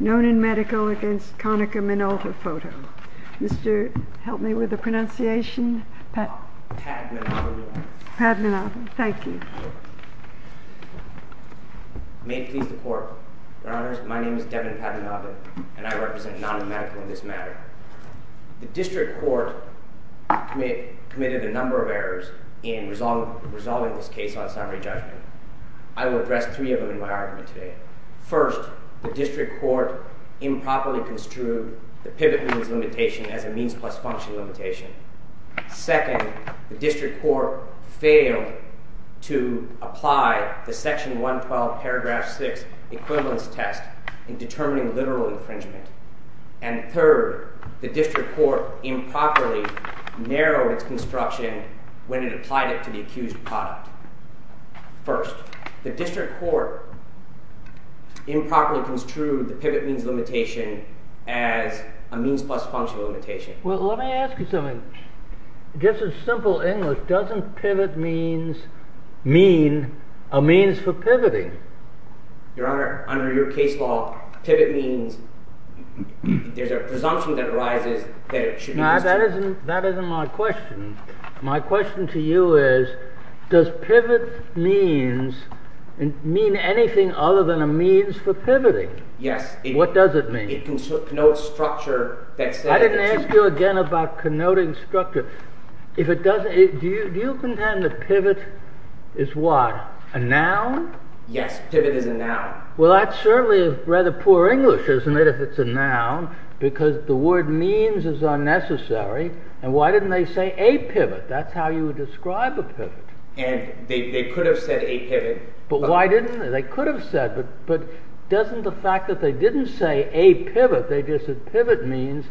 Nonin Medical v. Konica Minolta Photo May it please the Court, Your Honors, my name is Devin Padmanabhan and I represent Nonin Medical in this matter. The District Court committed a number of errors in resolving this case on summary judgment. I will address three of them in my argument today. First, the District Court improperly construed the pivot means limitation as a means plus function limitation. Second, the District Court failed to apply the Section 112, paragraph 6 equivalence test in determining literal infringement. And third, the District Court improperly narrowed its construction when it applied it to the accused product. First, the District Court improperly construed the pivot means limitation as a means plus function limitation. Well, let me ask you something. Just in simple English, doesn't pivot means mean a means for pivoting? Your Honor, under your case law, pivot means, there's a presumption that arises that it should means, mean anything other than a means for pivoting. Yes. What does it mean? It connotes structure. I didn't ask you again about connoting structure. If it doesn't, do you contend that pivot is what? A noun? Yes, pivot is a noun. Well, that's certainly rather poor English, isn't it? If it's a noun, because the word means is unnecessary. And why didn't they say a pivot? That's how you would describe a pivot. And they could have said a pivot. But why didn't they? They could have said, but doesn't the fact that they didn't say a pivot, they just said pivot means,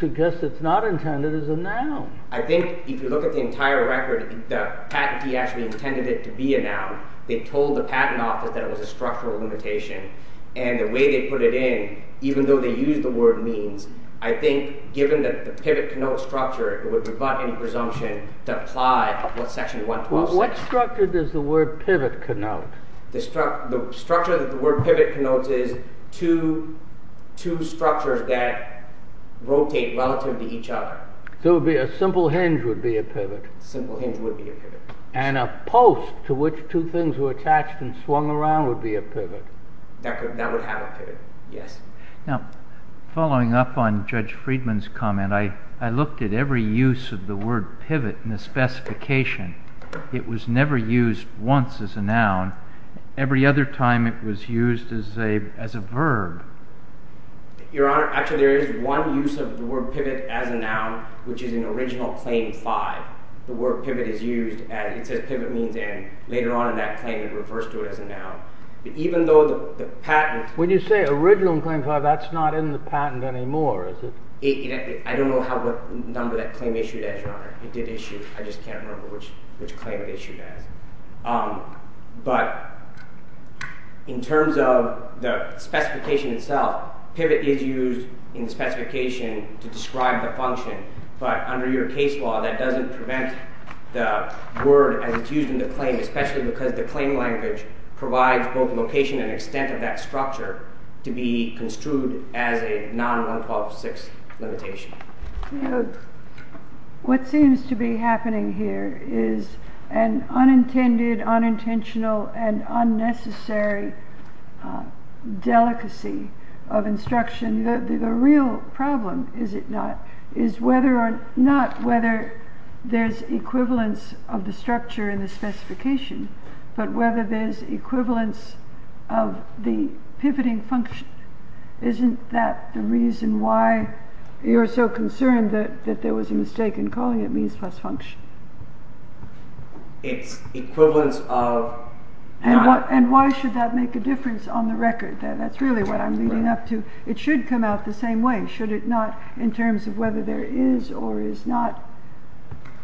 suggests it's not intended as a noun. I think if you look at the entire record, the patentee actually intended it to be a noun. They told the patent office that it was a structural limitation. And the way they put it in, even though they use the word means, I think given that the pivot connotes structure, it would rebut any presumption to apply what section 112 says. What structure does the word pivot connote? The structure that the word pivot connotes is two structures that rotate relative to each other. So it would be a simple hinge would be a pivot. Simple hinge would be a pivot. And a post to which two things were attached and swung around would be a pivot. That would have a pivot, yes. Now, following up on Judge Friedman's comment, I looked at every use of the word pivot in the specification. It was never used once as a noun. Every other time it was used as a verb. Your Honor, actually there is one use of the word pivot as a noun, which is in original claim five. The word pivot is used, and it says pivot means later on in that claim it refers to it as a noun. But even though the patent... When you say original claim five, that's not in the patent anymore, is it? I don't know what number that claim issued as, Your Honor. It did issue. I just can't remember which claim it issued as. But in terms of the specification itself, pivot is used in the specification to describe the function. But under your case law, that doesn't prevent the word as it's used in the claim, especially because the claim language provides both location and extent of that structure to be construed as a non-1126 limitation. What seems to be happening here is an unintended, unintentional, and unnecessary delicacy of instruction. The real problem, is it not, is whether or not whether there's equivalence of the structure in the specification, but whether there's equivalence of the pivoting function. Isn't that the reason why you're so concerned that there was a mistake in calling it means plus function? It's equivalence of... And why should that make a difference on the record? That's really what I'm leading up to. It should come out the same way, should it not, in terms of whether there is or is not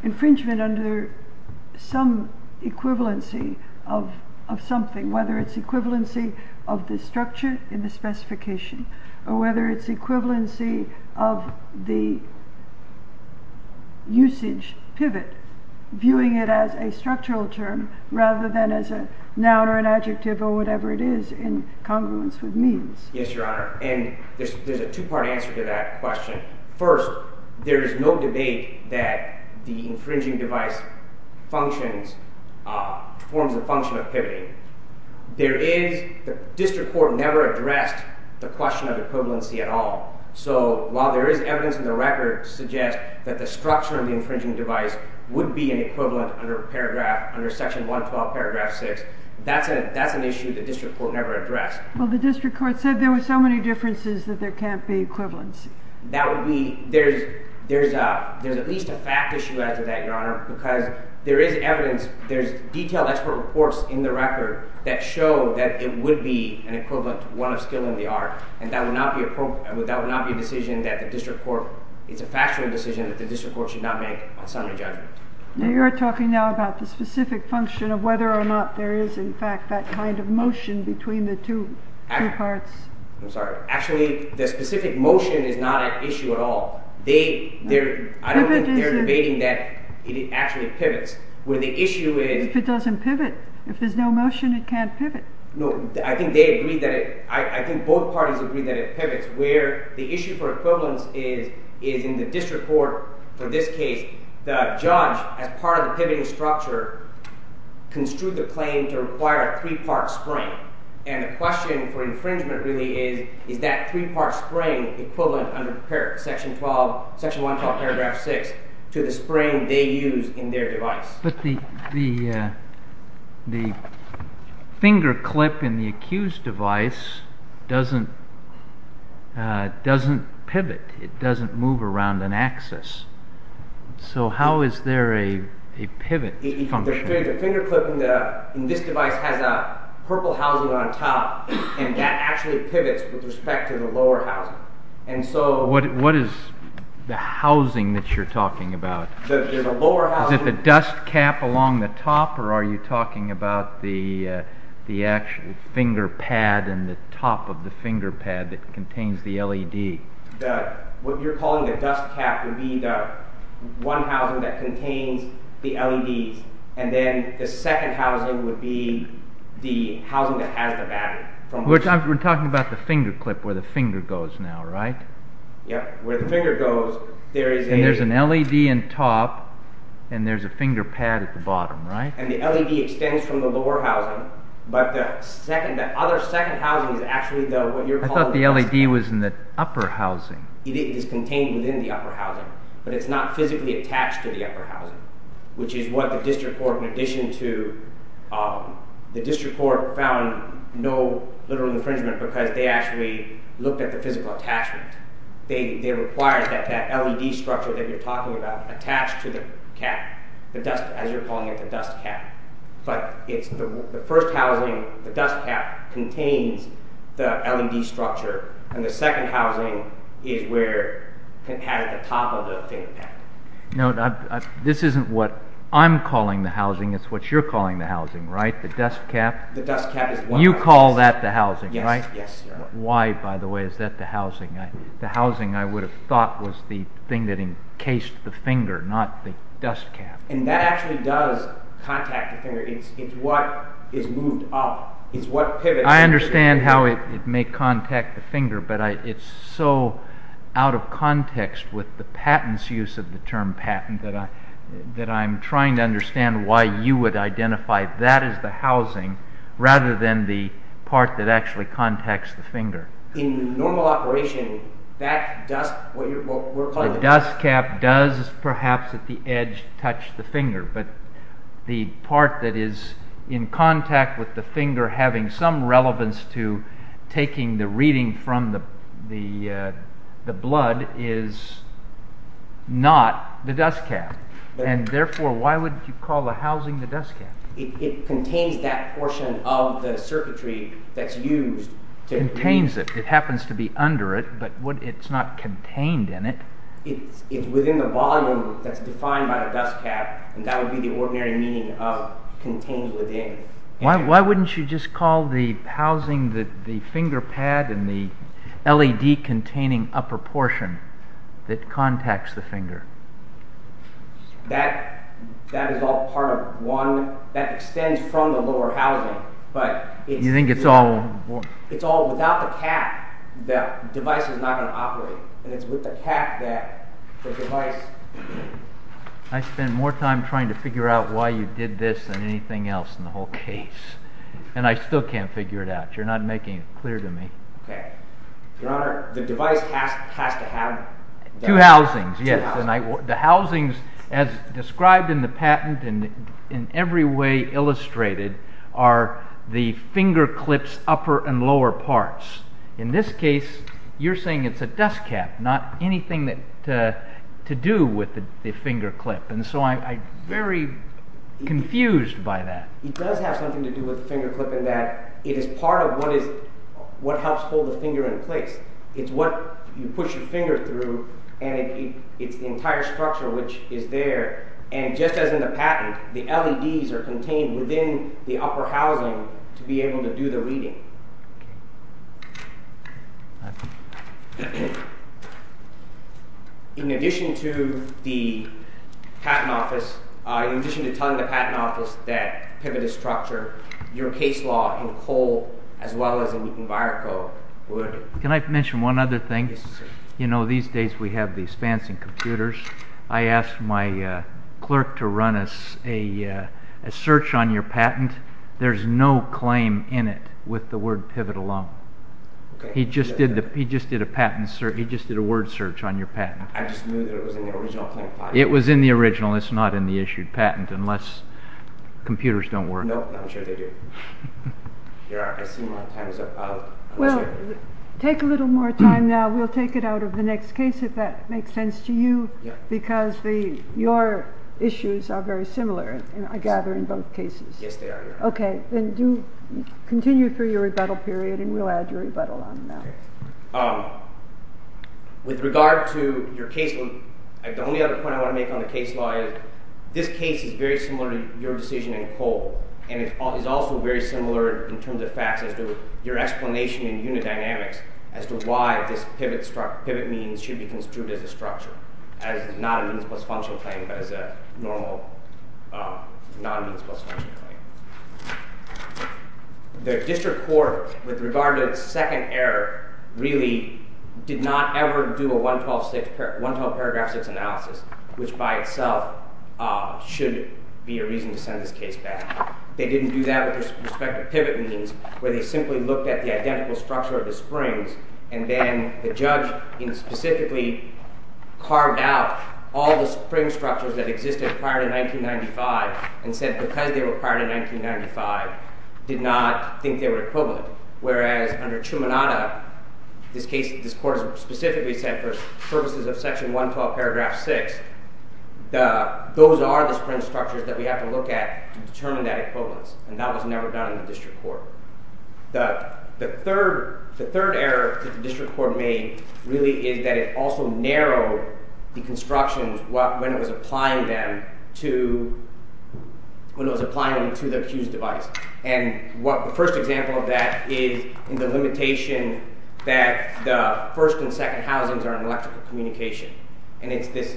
infringement under some equivalency of something, whether it's equivalency of the structure in the specification, or whether it's equivalency of the usage pivot, viewing it as a structural term rather than as a noun or an adjective or whatever it is in congruence with means. Yes, your honor, and there's a two-part answer to that question. First, there is no debate that the infringing device functions, forms a function of pivoting. There is, the district court never addressed the question of equivalency at all, so while there is evidence in the record to suggest that the structure of the infringing device would be an That's an issue the district court never addressed. Well, the district court said there were so many differences that there can't be equivalency. That would be, there's at least a fact issue as to that, your honor, because there is evidence, there's detailed expert reports in the record that show that it would be an equivalent to one of skill and the art, and that would not be appropriate, that would not be a decision that the district court, it's a factually decision that the district court should not make on summary judgment. Now you're talking now about the specific function of whether or not there is in fact that kind of motion between the two parts. I'm sorry, actually the specific motion is not an issue at all. They, they're, I don't think they're debating that it actually pivots, where the issue is, if it doesn't pivot, if there's no motion, it can't pivot. No, I think they agree that it, I think both parties agree that it pivots, where the issue for equivalence is, is in the district court for this case, the judge as part of the pivoting structure construed the claim to require a three-part spring, and the question for infringement really is, is that three-part spring equivalent under section 12, section 112 paragraph 6 to the spring they use in their device. But the, the, the finger clip in the accused device doesn't, doesn't pivot, it doesn't move around an axis. So how is there a, a pivot? The finger clip in the, in this device has a purple housing on top, and that actually pivots with respect to the lower housing. And so what, what is the housing that you're talking about? The lower housing. Is it the dust cap along the top or are you talking about the, the actual finger pad and the top of the finger pad that contains the LED? The, what you're calling the dust cap would be the one housing that contains the LEDs, and then the second housing would be the housing that has the battery. We're talking about the finger clip where the finger goes now, right? Yep, where the finger goes, there is a... And there's an LED in top, and there's a finger pad at the bottom, right? And the LED extends from the lower housing, but the second, the other second housing is actually the, what you're calling... I thought the LED was in the upper housing. It is contained within the upper housing, but it's not physically attached to the upper housing, which is what the district court, in addition to, the district court found no literal infringement because they actually looked at the physical attachment. They, they required that, that LED structure that you're talking about attached to the cap, the dust, as you're calling it, the dust cap. But it's the first housing, the dust cap contains the LED structure, and the second housing is where, at the top of the finger pad. No, this isn't what I'm calling the housing, it's what you're calling the housing, right? The dust cap. The dust cap is... You call that the housing, right? Yes. Why, by the way, is that the housing? The housing, I would have thought, was the thing that encased the finger, not the dust cap. And that actually does contact the finger. It's, it's what is moved up, it's what pivots... I understand how it may contact the finger, but I, it's so out of context with the patent's use of the term patent that I, that I'm trying to understand why you would identify that as the housing, rather than the part that actually contacts the finger. In normal operation, that dust, the dust cap does perhaps at the edge touch the finger, but the part that is in contact with the finger having some relevance to taking the reading from the, the blood is not the dust cap. And therefore, why would you call the housing the dust cap? It contains that portion of the circuitry that's used to... Contains it, it happens to be under it, but what, it's not contained in it? It's, it's within the volume that's defined by the dust cap, and that would be the ordinary meaning of contained within. Why, why wouldn't you just call the housing the, the finger pad and the LED containing upper portion that contacts the finger? That, that is all part of one, that extends from the lower housing, but... You think it's all... It's all without the cap, that device is not going to operate, and it's with the cap that the device... I spend more time trying to figure out why you did this than anything else in the whole case, and I still can't figure it out. You're not making it clear to me. Okay. Your honor, the device has to have... Two housings, yes, and I, the housings as described in the patent and in every way illustrated are the finger clips upper and lower parts. In this case, you're saying it's a dust cap, not anything that to do with the finger clip, and so I'm very confused by that. It does have something to do with the finger clip in that it is part of what is, what helps hold the finger in place. It's what you push your finger through, and it's the entire structure which is there, and just as in the patent, the LEDs are contained within the upper housing to be able to do the reading. In addition to the patent office, in addition to telling the patent office that pivoted structure, your case law in Cole as well as in Viroco would... Can I mention one other thing? You know, these days we have these fancy computers. I asked my clerk to run us a search on your patent. There's no claim in it with the word pivot alone. He just did a patent search, he just did a word search on your patent. I just knew that it was in the original... It was in the original, it's not in the issued patent unless computers don't work. No, I'm sure we'll take it out of the next case if that makes sense to you, because your issues are very similar, I gather, in both cases. Yes, they are. Okay, then continue through your rebuttal period, and we'll add your rebuttal on that. With regard to your case, the only other point I want to make on the case law is this case is very similar to your decision in Cole, and it's also very similar in terms of facts as to your explanation in unidynamics as to why this pivot means should be construed as a structure, as not a means plus function claim, but as a normal non-means plus function claim. The district court, with regard to its second error, really did not ever do a 112 paragraph states analysis, which by itself should be a reason to send this case back. They didn't do that with respect to pivot means, where they simply looked at the identical structure of the springs, and then the judge specifically carved out all the spring structures that existed prior to 1995, and said because they were prior to 1995, did not think they were equivalent, whereas under Trumanada, this case, this court specifically said for purposes of section 112 paragraph 6, those are the spring structures that we have to look at to determine equivalence, and that was never done in the district court. The third error that the district court made really is that it also narrowed the constructions when it was applying them to when it was applying them to the accused device, and what the first example of that is in the limitation that the first and second housings are in electrical communication, and it's this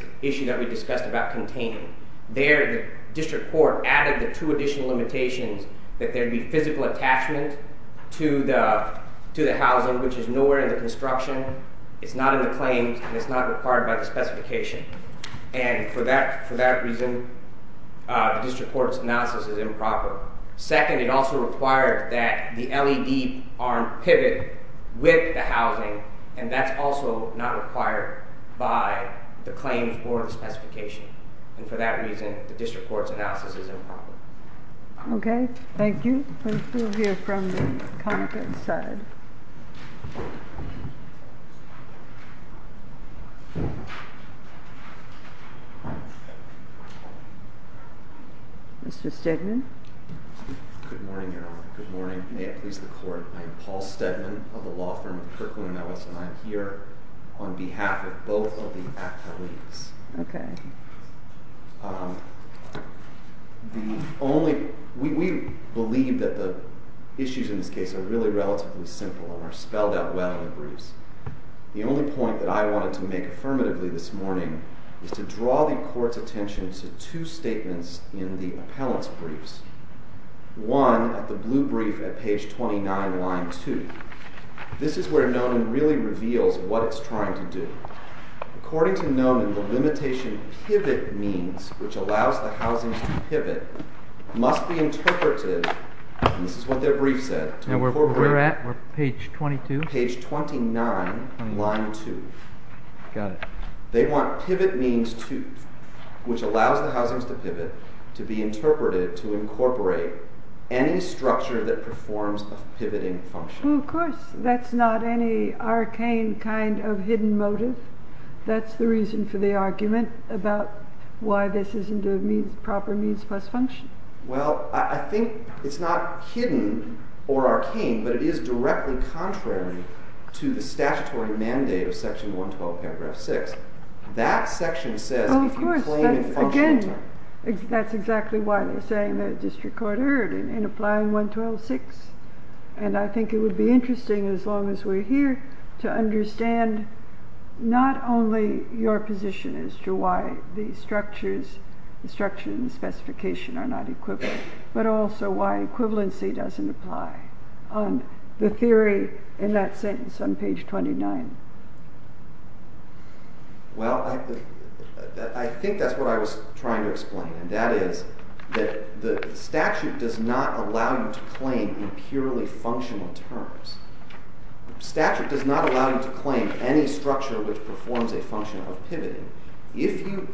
court added the two additional limitations that there'd be physical attachment to the to the housing, which is nowhere in the construction. It's not in the claims, and it's not required by the specification, and for that for that reason, the district court's analysis is improper. Second, it also required that the LED arm pivot with the housing, and that's also not required by the claims or the specification, and for that reason, the district court's analysis is improper. Okay, thank you. We'll hear from the comments side. Mr. Stedman. Good morning, Your Honor. Good morning. May it please the court. I am Paul Stedman of the law firm of Kirkland & Ellis, and I'm here on behalf of both of the athletes. Okay. The only we believe that the issues in this case are really relatively simple and are spelled out well in the briefs. The only point that I wanted to make affirmatively this morning is to draw the court's attention to two statements in the appellant's briefs. One, at the blue brief at page 29, line 2. This is where Nomen really reveals what it's trying to do. According to Nomen, the limitation pivot means, which allows the housings to pivot, must be interpreted, and this is what their brief said, and we're at page 22, page 29, line 2. Got it. They want pivot means 2, which allows the housings to pivot, to be interpreted, to incorporate any structure that performs a pivoting function. Of course, that's not any arcane kind of hidden motive. That's the reason for the argument about why this isn't a proper means plus function. Well, I think it's not hidden or arcane, but it is directly contrary to the statutory mandate of section 112, paragraph 6. That section says you can claim a function. That's exactly why they're saying the district court erred in applying 112.6, and I think it would be interesting, as long as we're here, to understand not only your position as to why the structures, the structure and the specification are not equivalent, but also why equivalency doesn't apply on the theory in that sentence on page 29. Well, I think that's what I was trying to explain, and that is that the statute does not allow you to claim in purely functional terms. The statute does not allow you to claim any structure which performs a function of pivoting. If you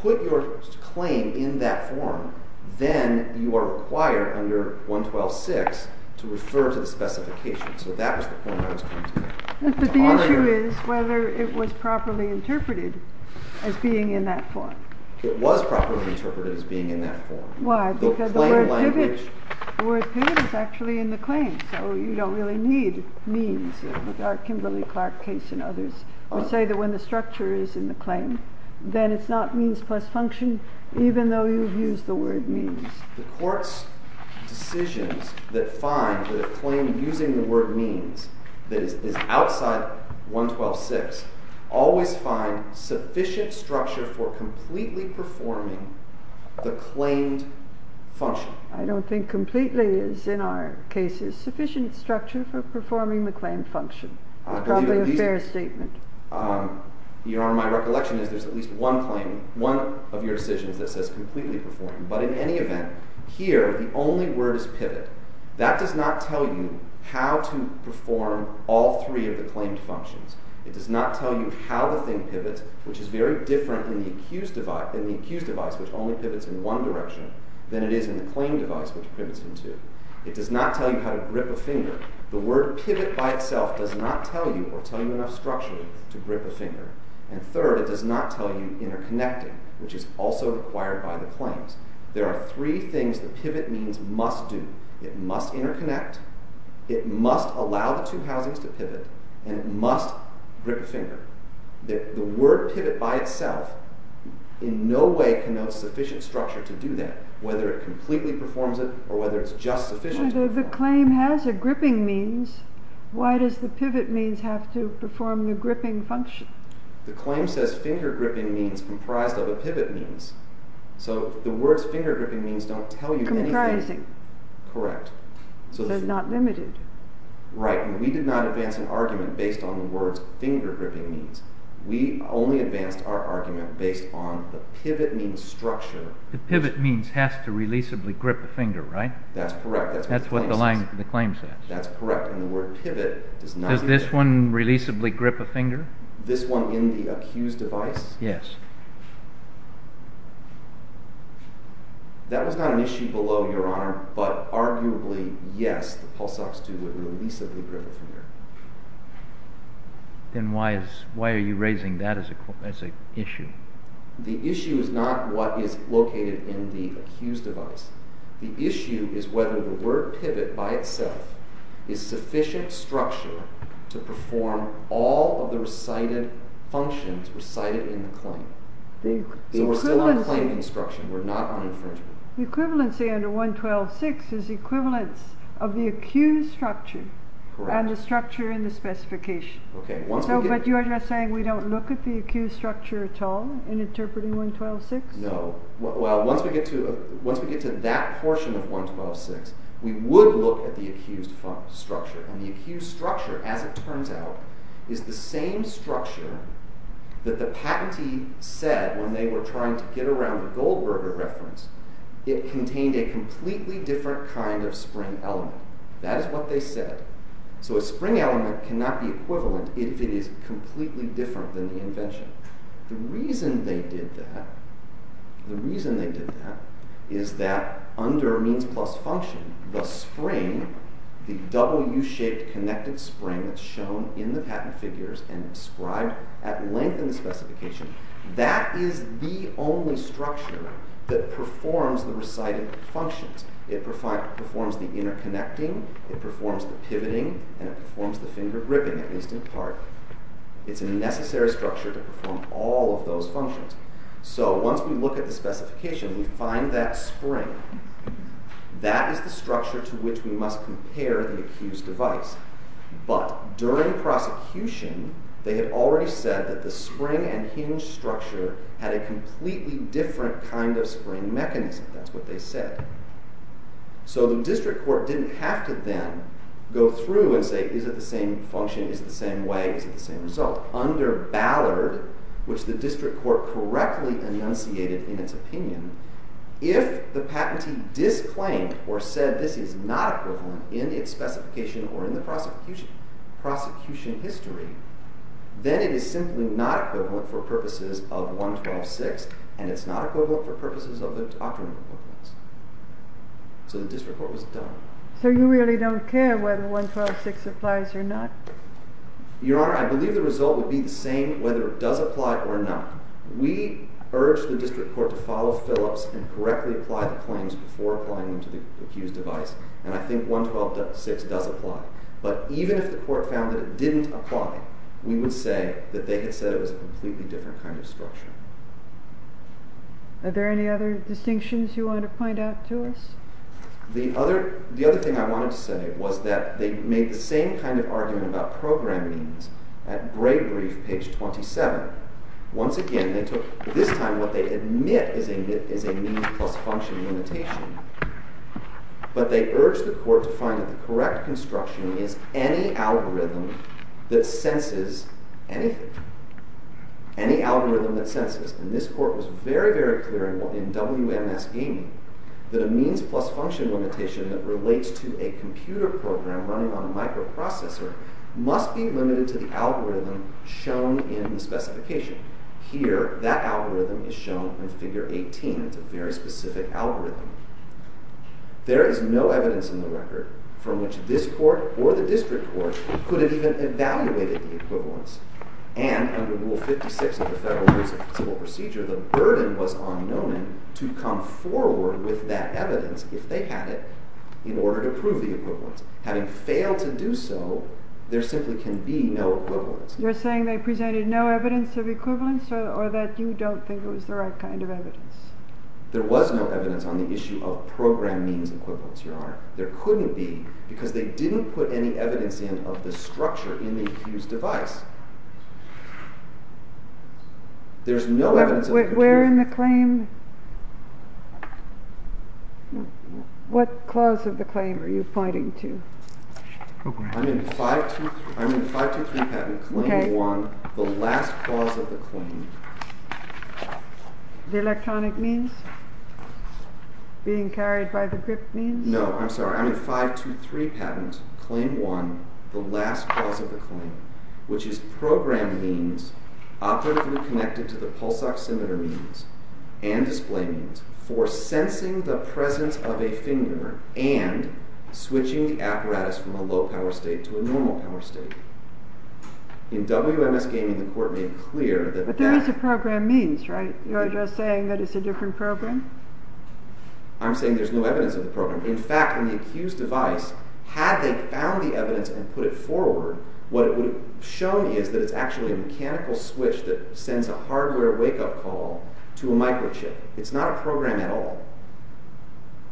put your claim in that form, then you are required under 112.6 to refer to the specification, so that was the point I was trying to make. But the issue is whether it was properly interpreted as being in that form. It was properly interpreted as being in that form. Why? Because the word pivot is actually in the claim, so you don't really need means in our Kimberly-Clark case and others. We say that when the structure is in the claim, then it's not means plus function, even though you've used the word means. The court's decisions that find the claim using the word means that is outside 112.6 always find sufficient structure for completely performing the claimed function. I don't think completely is, in our cases, sufficient structure for performing the claimed function. It's probably a fair statement. Your Honor, my recollection is there's at least one claim, one of your decisions that says completely performed, but in any event, here, the only word is pivot. That does not tell you how to perform all three of the claimed functions. It does not tell you how the thing pivots, which is very different in the accused device, which only pivots in one direction, than it is in the claim device, which pivots in two. It does not tell you how to grip a finger. The word pivot by itself does not tell you or tell you enough structure to grip a finger. And third, it does not tell you interconnecting, which is also required by the claims. There are three things the pivot means must do. It must interconnect, it must allow the two housings to pivot, and it must grip a finger. The word pivot by itself in no way connotes sufficient structure to do that, whether it completely performs it or whether it's just sufficient. If the claim has a gripping means, why does the pivot means have to perform a gripping function? The claim says finger gripping means comprised of a pivot means. So the words finger gripping means don't tell you anything. Comprising. Correct. So it's not limited. Right. We did not advance an argument based on the words finger gripping means. We only advanced our argument based on the pivot means structure. The pivot means has to releasably grip a finger, right? That's correct. That's what the line, the claim says. That's correct. And the word pivot does not... Does this one releasably grip a finger? This one in the accused device? Yes. That was not an issue below, Your Honor, but arguably, yes, the Pulse Ox2 would releasably grip a finger. Then why is, why are you raising that as a issue? The issue is not what is located in the accused device. The issue is whether the word pivot by itself is sufficient structure to perform all of the recited functions recited in the claim. So we're still on claim instruction. We're not on infringement. The equivalency under 112.6 is the equivalence of the accused structure and the structure in the specification. Okay. But you're just saying we don't look at the once we get to that portion of 112.6, we would look at the accused structure. And the accused structure, as it turns out, is the same structure that the patentee said when they were trying to get around the Goldberger reference. It contained a completely different kind of spring element. That is what they said. So a spring element cannot be equivalent if it is completely different than the invention. The reason they did that, the reason they did that is that under means plus function, the spring, the W-shaped connected spring that's shown in the patent figures and described at length in the specification, that is the only structure that performs the recited functions. It performs the interconnecting, it performs the pivoting, and it performs the finger to perform all of those functions. So once we look at the specification, we find that spring. That is the structure to which we must compare the accused device. But during prosecution, they had already said that the spring and hinge structure had a completely different kind of spring mechanism. That's what they said. So the district court didn't have to then go through and say, is it the same function, is it the same way, is it the same result? Under Ballard, which the district court correctly enunciated in its opinion, if the patentee disclaimed or said this is not equivalent in its specification or in the prosecution history, then it is simply not equivalent for purposes of 112.6, and it's not equivalent for purposes of the doctrine. So the district court was done. So you really don't care whether 112.6 applies or not? Your Honor, I believe the result would be the same whether it does apply or not. We urge the district court to follow Phillips and correctly apply the claims before applying them to the accused device, and I think 112.6 does apply. But even if the court found that it didn't apply, we would say that they had said it was a completely different kind of structure. Are there any other distinctions you want to point out to us? The other thing I wanted to say was that they made the same kind of argument about program means at great brief page 27. Once again, they took this time what they admit is a need plus function limitation, but they urged the court to find that the correct construction is any algorithm that this court was very, very clear in WMS gaming that a means plus function limitation that relates to a computer program running on a microprocessor must be limited to the algorithm shown in the specification. Here, that algorithm is shown in figure 18. It's a very specific algorithm. There is no evidence in the record from which this court or the district court could have even evaluated the equivalence and under rule 56 of the federal civil procedure, the burden was on Nomen to come forward with that evidence if they had it in order to prove the equivalence. Having failed to do so, there simply can be no equivalence. You're saying they presented no evidence of equivalence or that you don't think it was the right kind of evidence? There was no evidence on the issue of program means equivalence, Your Honor. There couldn't be because they didn't put any evidence in of the structure in the accused device. There's no evidence. We're in the claim. What clause of the claim are you pointing to? I'm in 523 patent claim 1, the last clause of the claim. The electronic means? Being carried by the grip means? No, I'm sorry. I'm in 523 patent claim 1, the last clause of the claim, which is program means operatively connected to the pulse oximeter means and display means for sensing the presence of a finger and switching the apparatus from a low power state to a normal power state. In WMS gaming, the court made clear that there is a program means, right? You're just saying that it's a different program? I'm saying there's no evidence of the program. In fact, in the accused device, had they found the evidence and put it forward, what it would have shown me is that it's actually a mechanical switch that sends a hardware wake-up call to a microchip. It's not a program at all.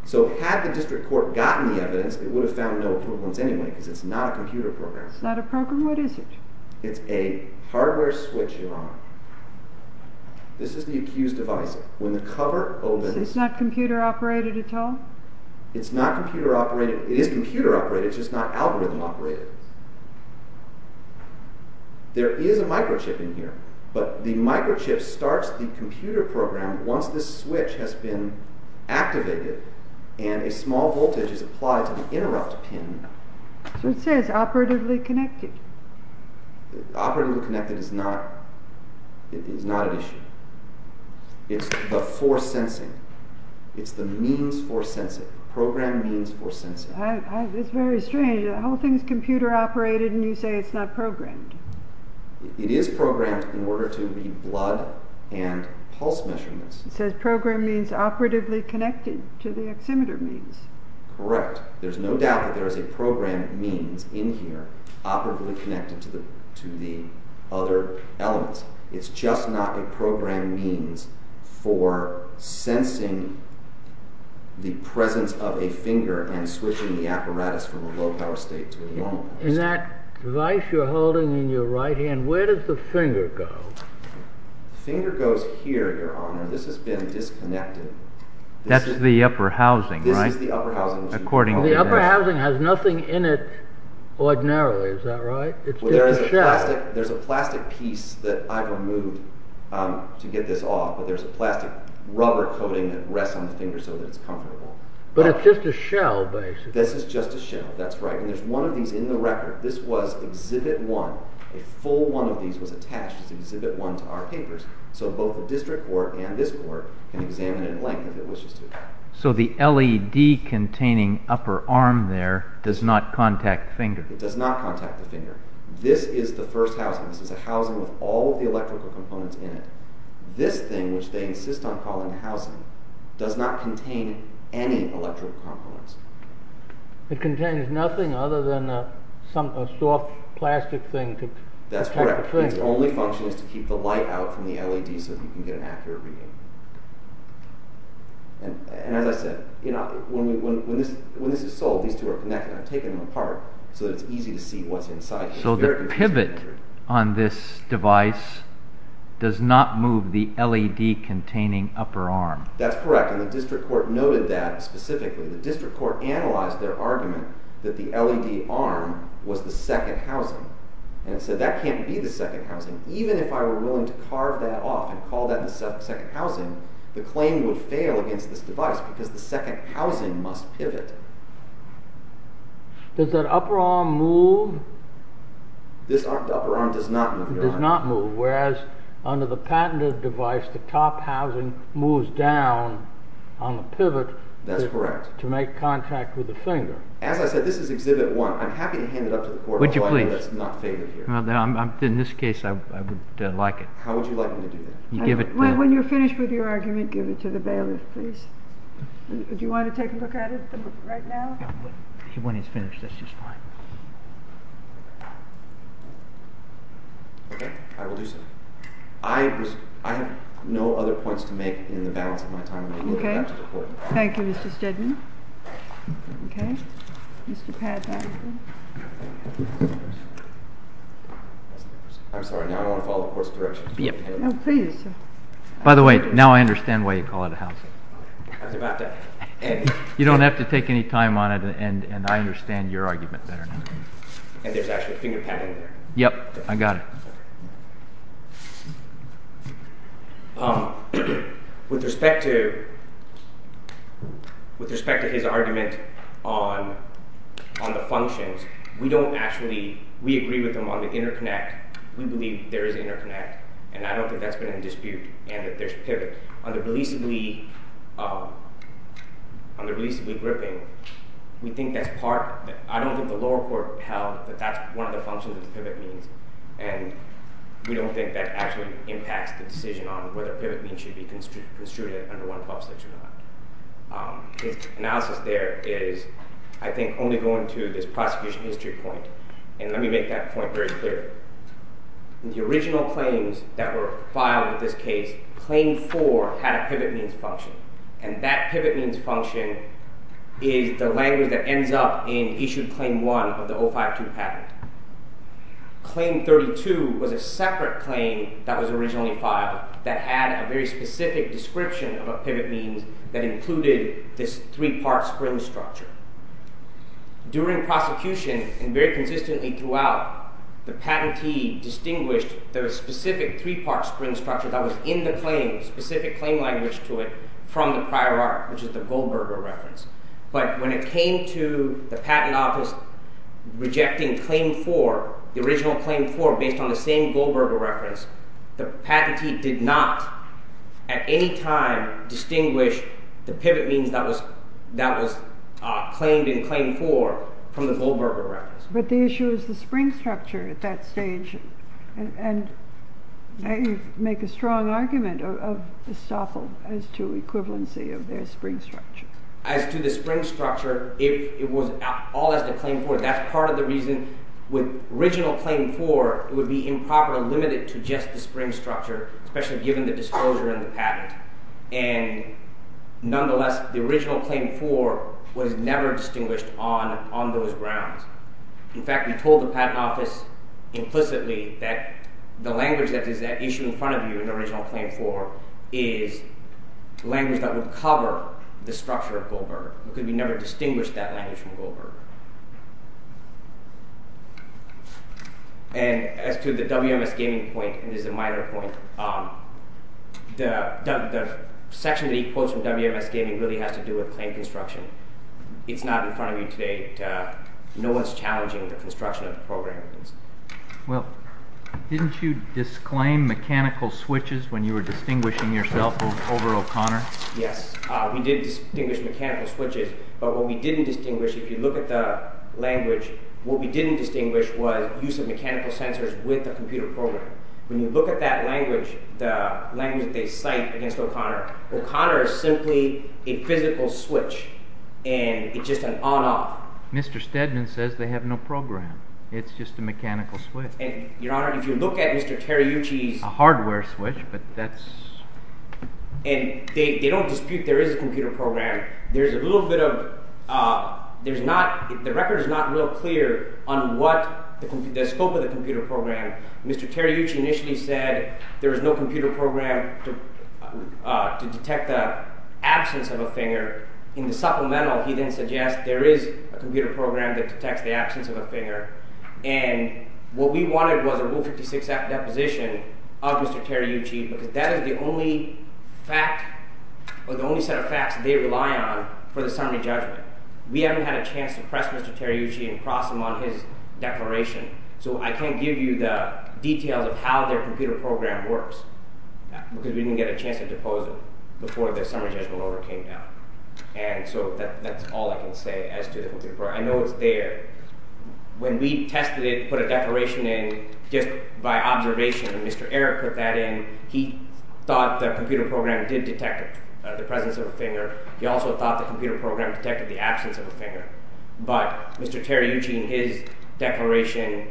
So had the district court gotten the evidence, it would have found no equivalence anyway because it's not a computer program. It's not a program? What is it? It's a hardware switch, Your Honor. This is the accused device. When the cover opens... It's not computer-operated at all? It's not computer-operated. It is computer-operated, it's just not algorithm-operated. There is a microchip in here, but the microchip starts the computer program once this switch has been activated and a small voltage is applied to the interrupt pin. So it says operatively connected. Operatively connected is not an issue. It's the force sensing. It's the means for sensing. Program means for sensing. It's very strange. The whole thing's computer-operated and you say it's not programmed. It is programmed in order to read blood and pulse measurements. It says program means operatively connected to the oximeter means. Correct. There's no doubt that there is a program means in here operatively connected to the other elements. It's just not a program means for sensing the presence of a finger and switching the apparatus from a low-power state to a normal state. In that device you're holding in your right hand, where does the finger go? Finger goes here, Your Honor. This has been disconnected. That's the upper housing, right? The upper housing has nothing in it ordinarily, is that right? There's a plastic piece that I removed to get this off, but there's a plastic rubber coating that rests on the finger so that it's comfortable. But it's just a shell, basically. This is just a shell. That's right. And there's one of these in the record. This was exhibit one. A full one of these was attached as exhibit one to our papers so both the district court and this court can examine it at length if it wishes to. So the LED containing upper arm there does not contact the finger? It does not contact the finger. This is the first housing. This is a housing with all of the electrical components in it. This thing, which they insist on calling housing, does not contain any electrical components. It contains nothing other than a soft plastic thing to protect the finger? That's correct. Its only function is to keep the light out from the LED so you can get accurate reading. And as I said, when this is sold, these two are connected. I've taken them apart so that it's easy to see what's inside. So the pivot on this device does not move the LED containing upper arm? That's correct. And the district court noted that specifically. The district court analyzed their argument that the LED arm was the second housing. And it said that can't be the second housing. Even if I were willing to carve that off and call that the second housing, the claim would fail against this device because the second housing must pivot. Does that upper arm move? This upper arm does not move. It does not move. Whereas under the patented device, the top housing moves down on the pivot. That's correct. To make contact with the finger. As I said, this is exhibit one. I'm happy to hand it up to the court. Would you please? Well, in this case, I would like it. How would you like me to do that? When you're finished with your argument, give it to the bailiff, please. Would you want to take a look at it right now? When he's finished, that's just fine. Okay, I will do so. I have no other points to make in the balance of my time. Thank you, Mr. Steadman. Okay, Mr. Padman. I'm sorry. Now I want to follow the court's direction. By the way, now I understand why you call it a housing. You don't have to take any time on it, and I understand your argument better now. And there's actually a finger pad in there. Yep, I got it. With respect to his argument on the functions, we don't actually— we agree with him on the interconnect. We believe there is interconnect, and I don't think that's been in dispute, and that there's pivot. On the releasably gripping, we think that's part— I don't think the lower court held that that's one of the functions that pivot means, and we don't think that actually impacts the decision on whether pivot means should be construed under 1126 or not. His analysis there is, I think, only going to this prosecution history point, and let me make that point very clear. The original claims that were filed in this case, Claim 4 had a pivot means function, and that pivot means function is the language that ends up in Issued Claim 1 of the 052 patent. Claim 32 was a separate claim that was originally filed that had a very specific description of a pivot means that included this three-part spring structure. During prosecution, and very consistently throughout, the patentee distinguished the specific three-part spring structure that was in the claim, specific claim language to it, from the prior art, which is the Goldberger reference. But when it came to the patent office rejecting Claim 4, the original Claim 4, based on the same Goldberger reference, the patentee did not, at any time, distinguish the pivot means that was claimed in Claim 4 from the Goldberger reference. But the issue is the spring structure at that stage, and you make a strong argument of Estoffel as to equivalency of their spring structure. As to the spring structure, if it was all as to Claim 4, that's part of the reason with original Claim 4, it would be improper, limited to just the spring structure, especially given the disclosure in the patent. And nonetheless, the original Claim 4 was never distinguished on those grounds. In fact, we told the patent office implicitly that the language that is issued in front of you in original Claim 4 is language that would cover the structure of Goldberger, because we never distinguished that language from Goldberger. And as to the WMS Gaming point, and this is a minor point, the section that he quotes from WMS Gaming really has to do with claim construction. It's not in front of you today. No one's challenging the construction of the program. Well, didn't you disclaim mechanical switches when you were distinguishing yourself over O'Connor? Yes, we did distinguish mechanical switches. But what we didn't distinguish, if you look at the language, what we didn't distinguish was use of mechanical sensors with the computer program. When you look at that language, the language that they cite against O'Connor, O'Connor is simply a physical switch, and it's just an on-off. Mr. Stedman says they have no program. It's just a mechanical switch. And, Your Honor, if you look at Mr. Teriuchi's... A hardware switch, but that's... And they don't dispute there is a computer program. There's a little bit of... The record is not real clear on the scope of the computer program. Mr. Teriuchi initially said there is no computer program to detect the absence of a finger. In the supplemental, he then suggests there is a computer program that detects the absence of a finger. And what we wanted was a Rule 56 deposition of Mr. Teriuchi because that is the only fact or the only set of facts they rely on for the summary judgment. We haven't had a chance to press Mr. Teriuchi and cross him on his declaration. So I can't give you the details of how their computer program works because we didn't get a chance to depose him before the summary judgment order came down. And so that's all I can say as to the computer program. I know it's there. When we tested it, put a declaration in just by observation, and Mr. Eric put that in, he thought the computer program did detect the presence of a finger. He also thought the computer program detected the absence of a finger. But Mr. Teriuchi in his declaration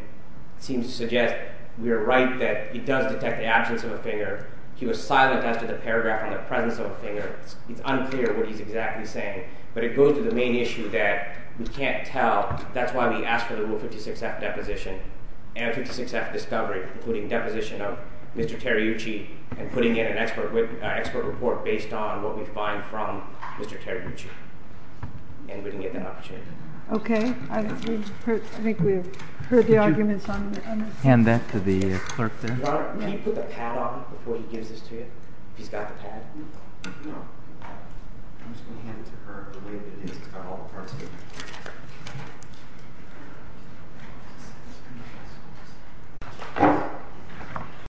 seems to suggest we are right that it does detect the absence of a finger. He was silent as to the paragraph on the presence of a finger. It's unclear what he's exactly saying. But it goes to the main issue that we can't tell. That's why we asked for the Rule 56-F deposition and 56-F discovery, including deposition of Mr. Teriuchi and putting in an expert report based on what we find from Mr. Teriuchi. And we didn't get that opportunity. Okay. I think we've heard the arguments on this. Hand that to the clerk there. Your Honor, can you put the pad on before he gives this to you, if he's got the pad? No. I'm just going to hand it to her the way that it is. It's got all the parts in it.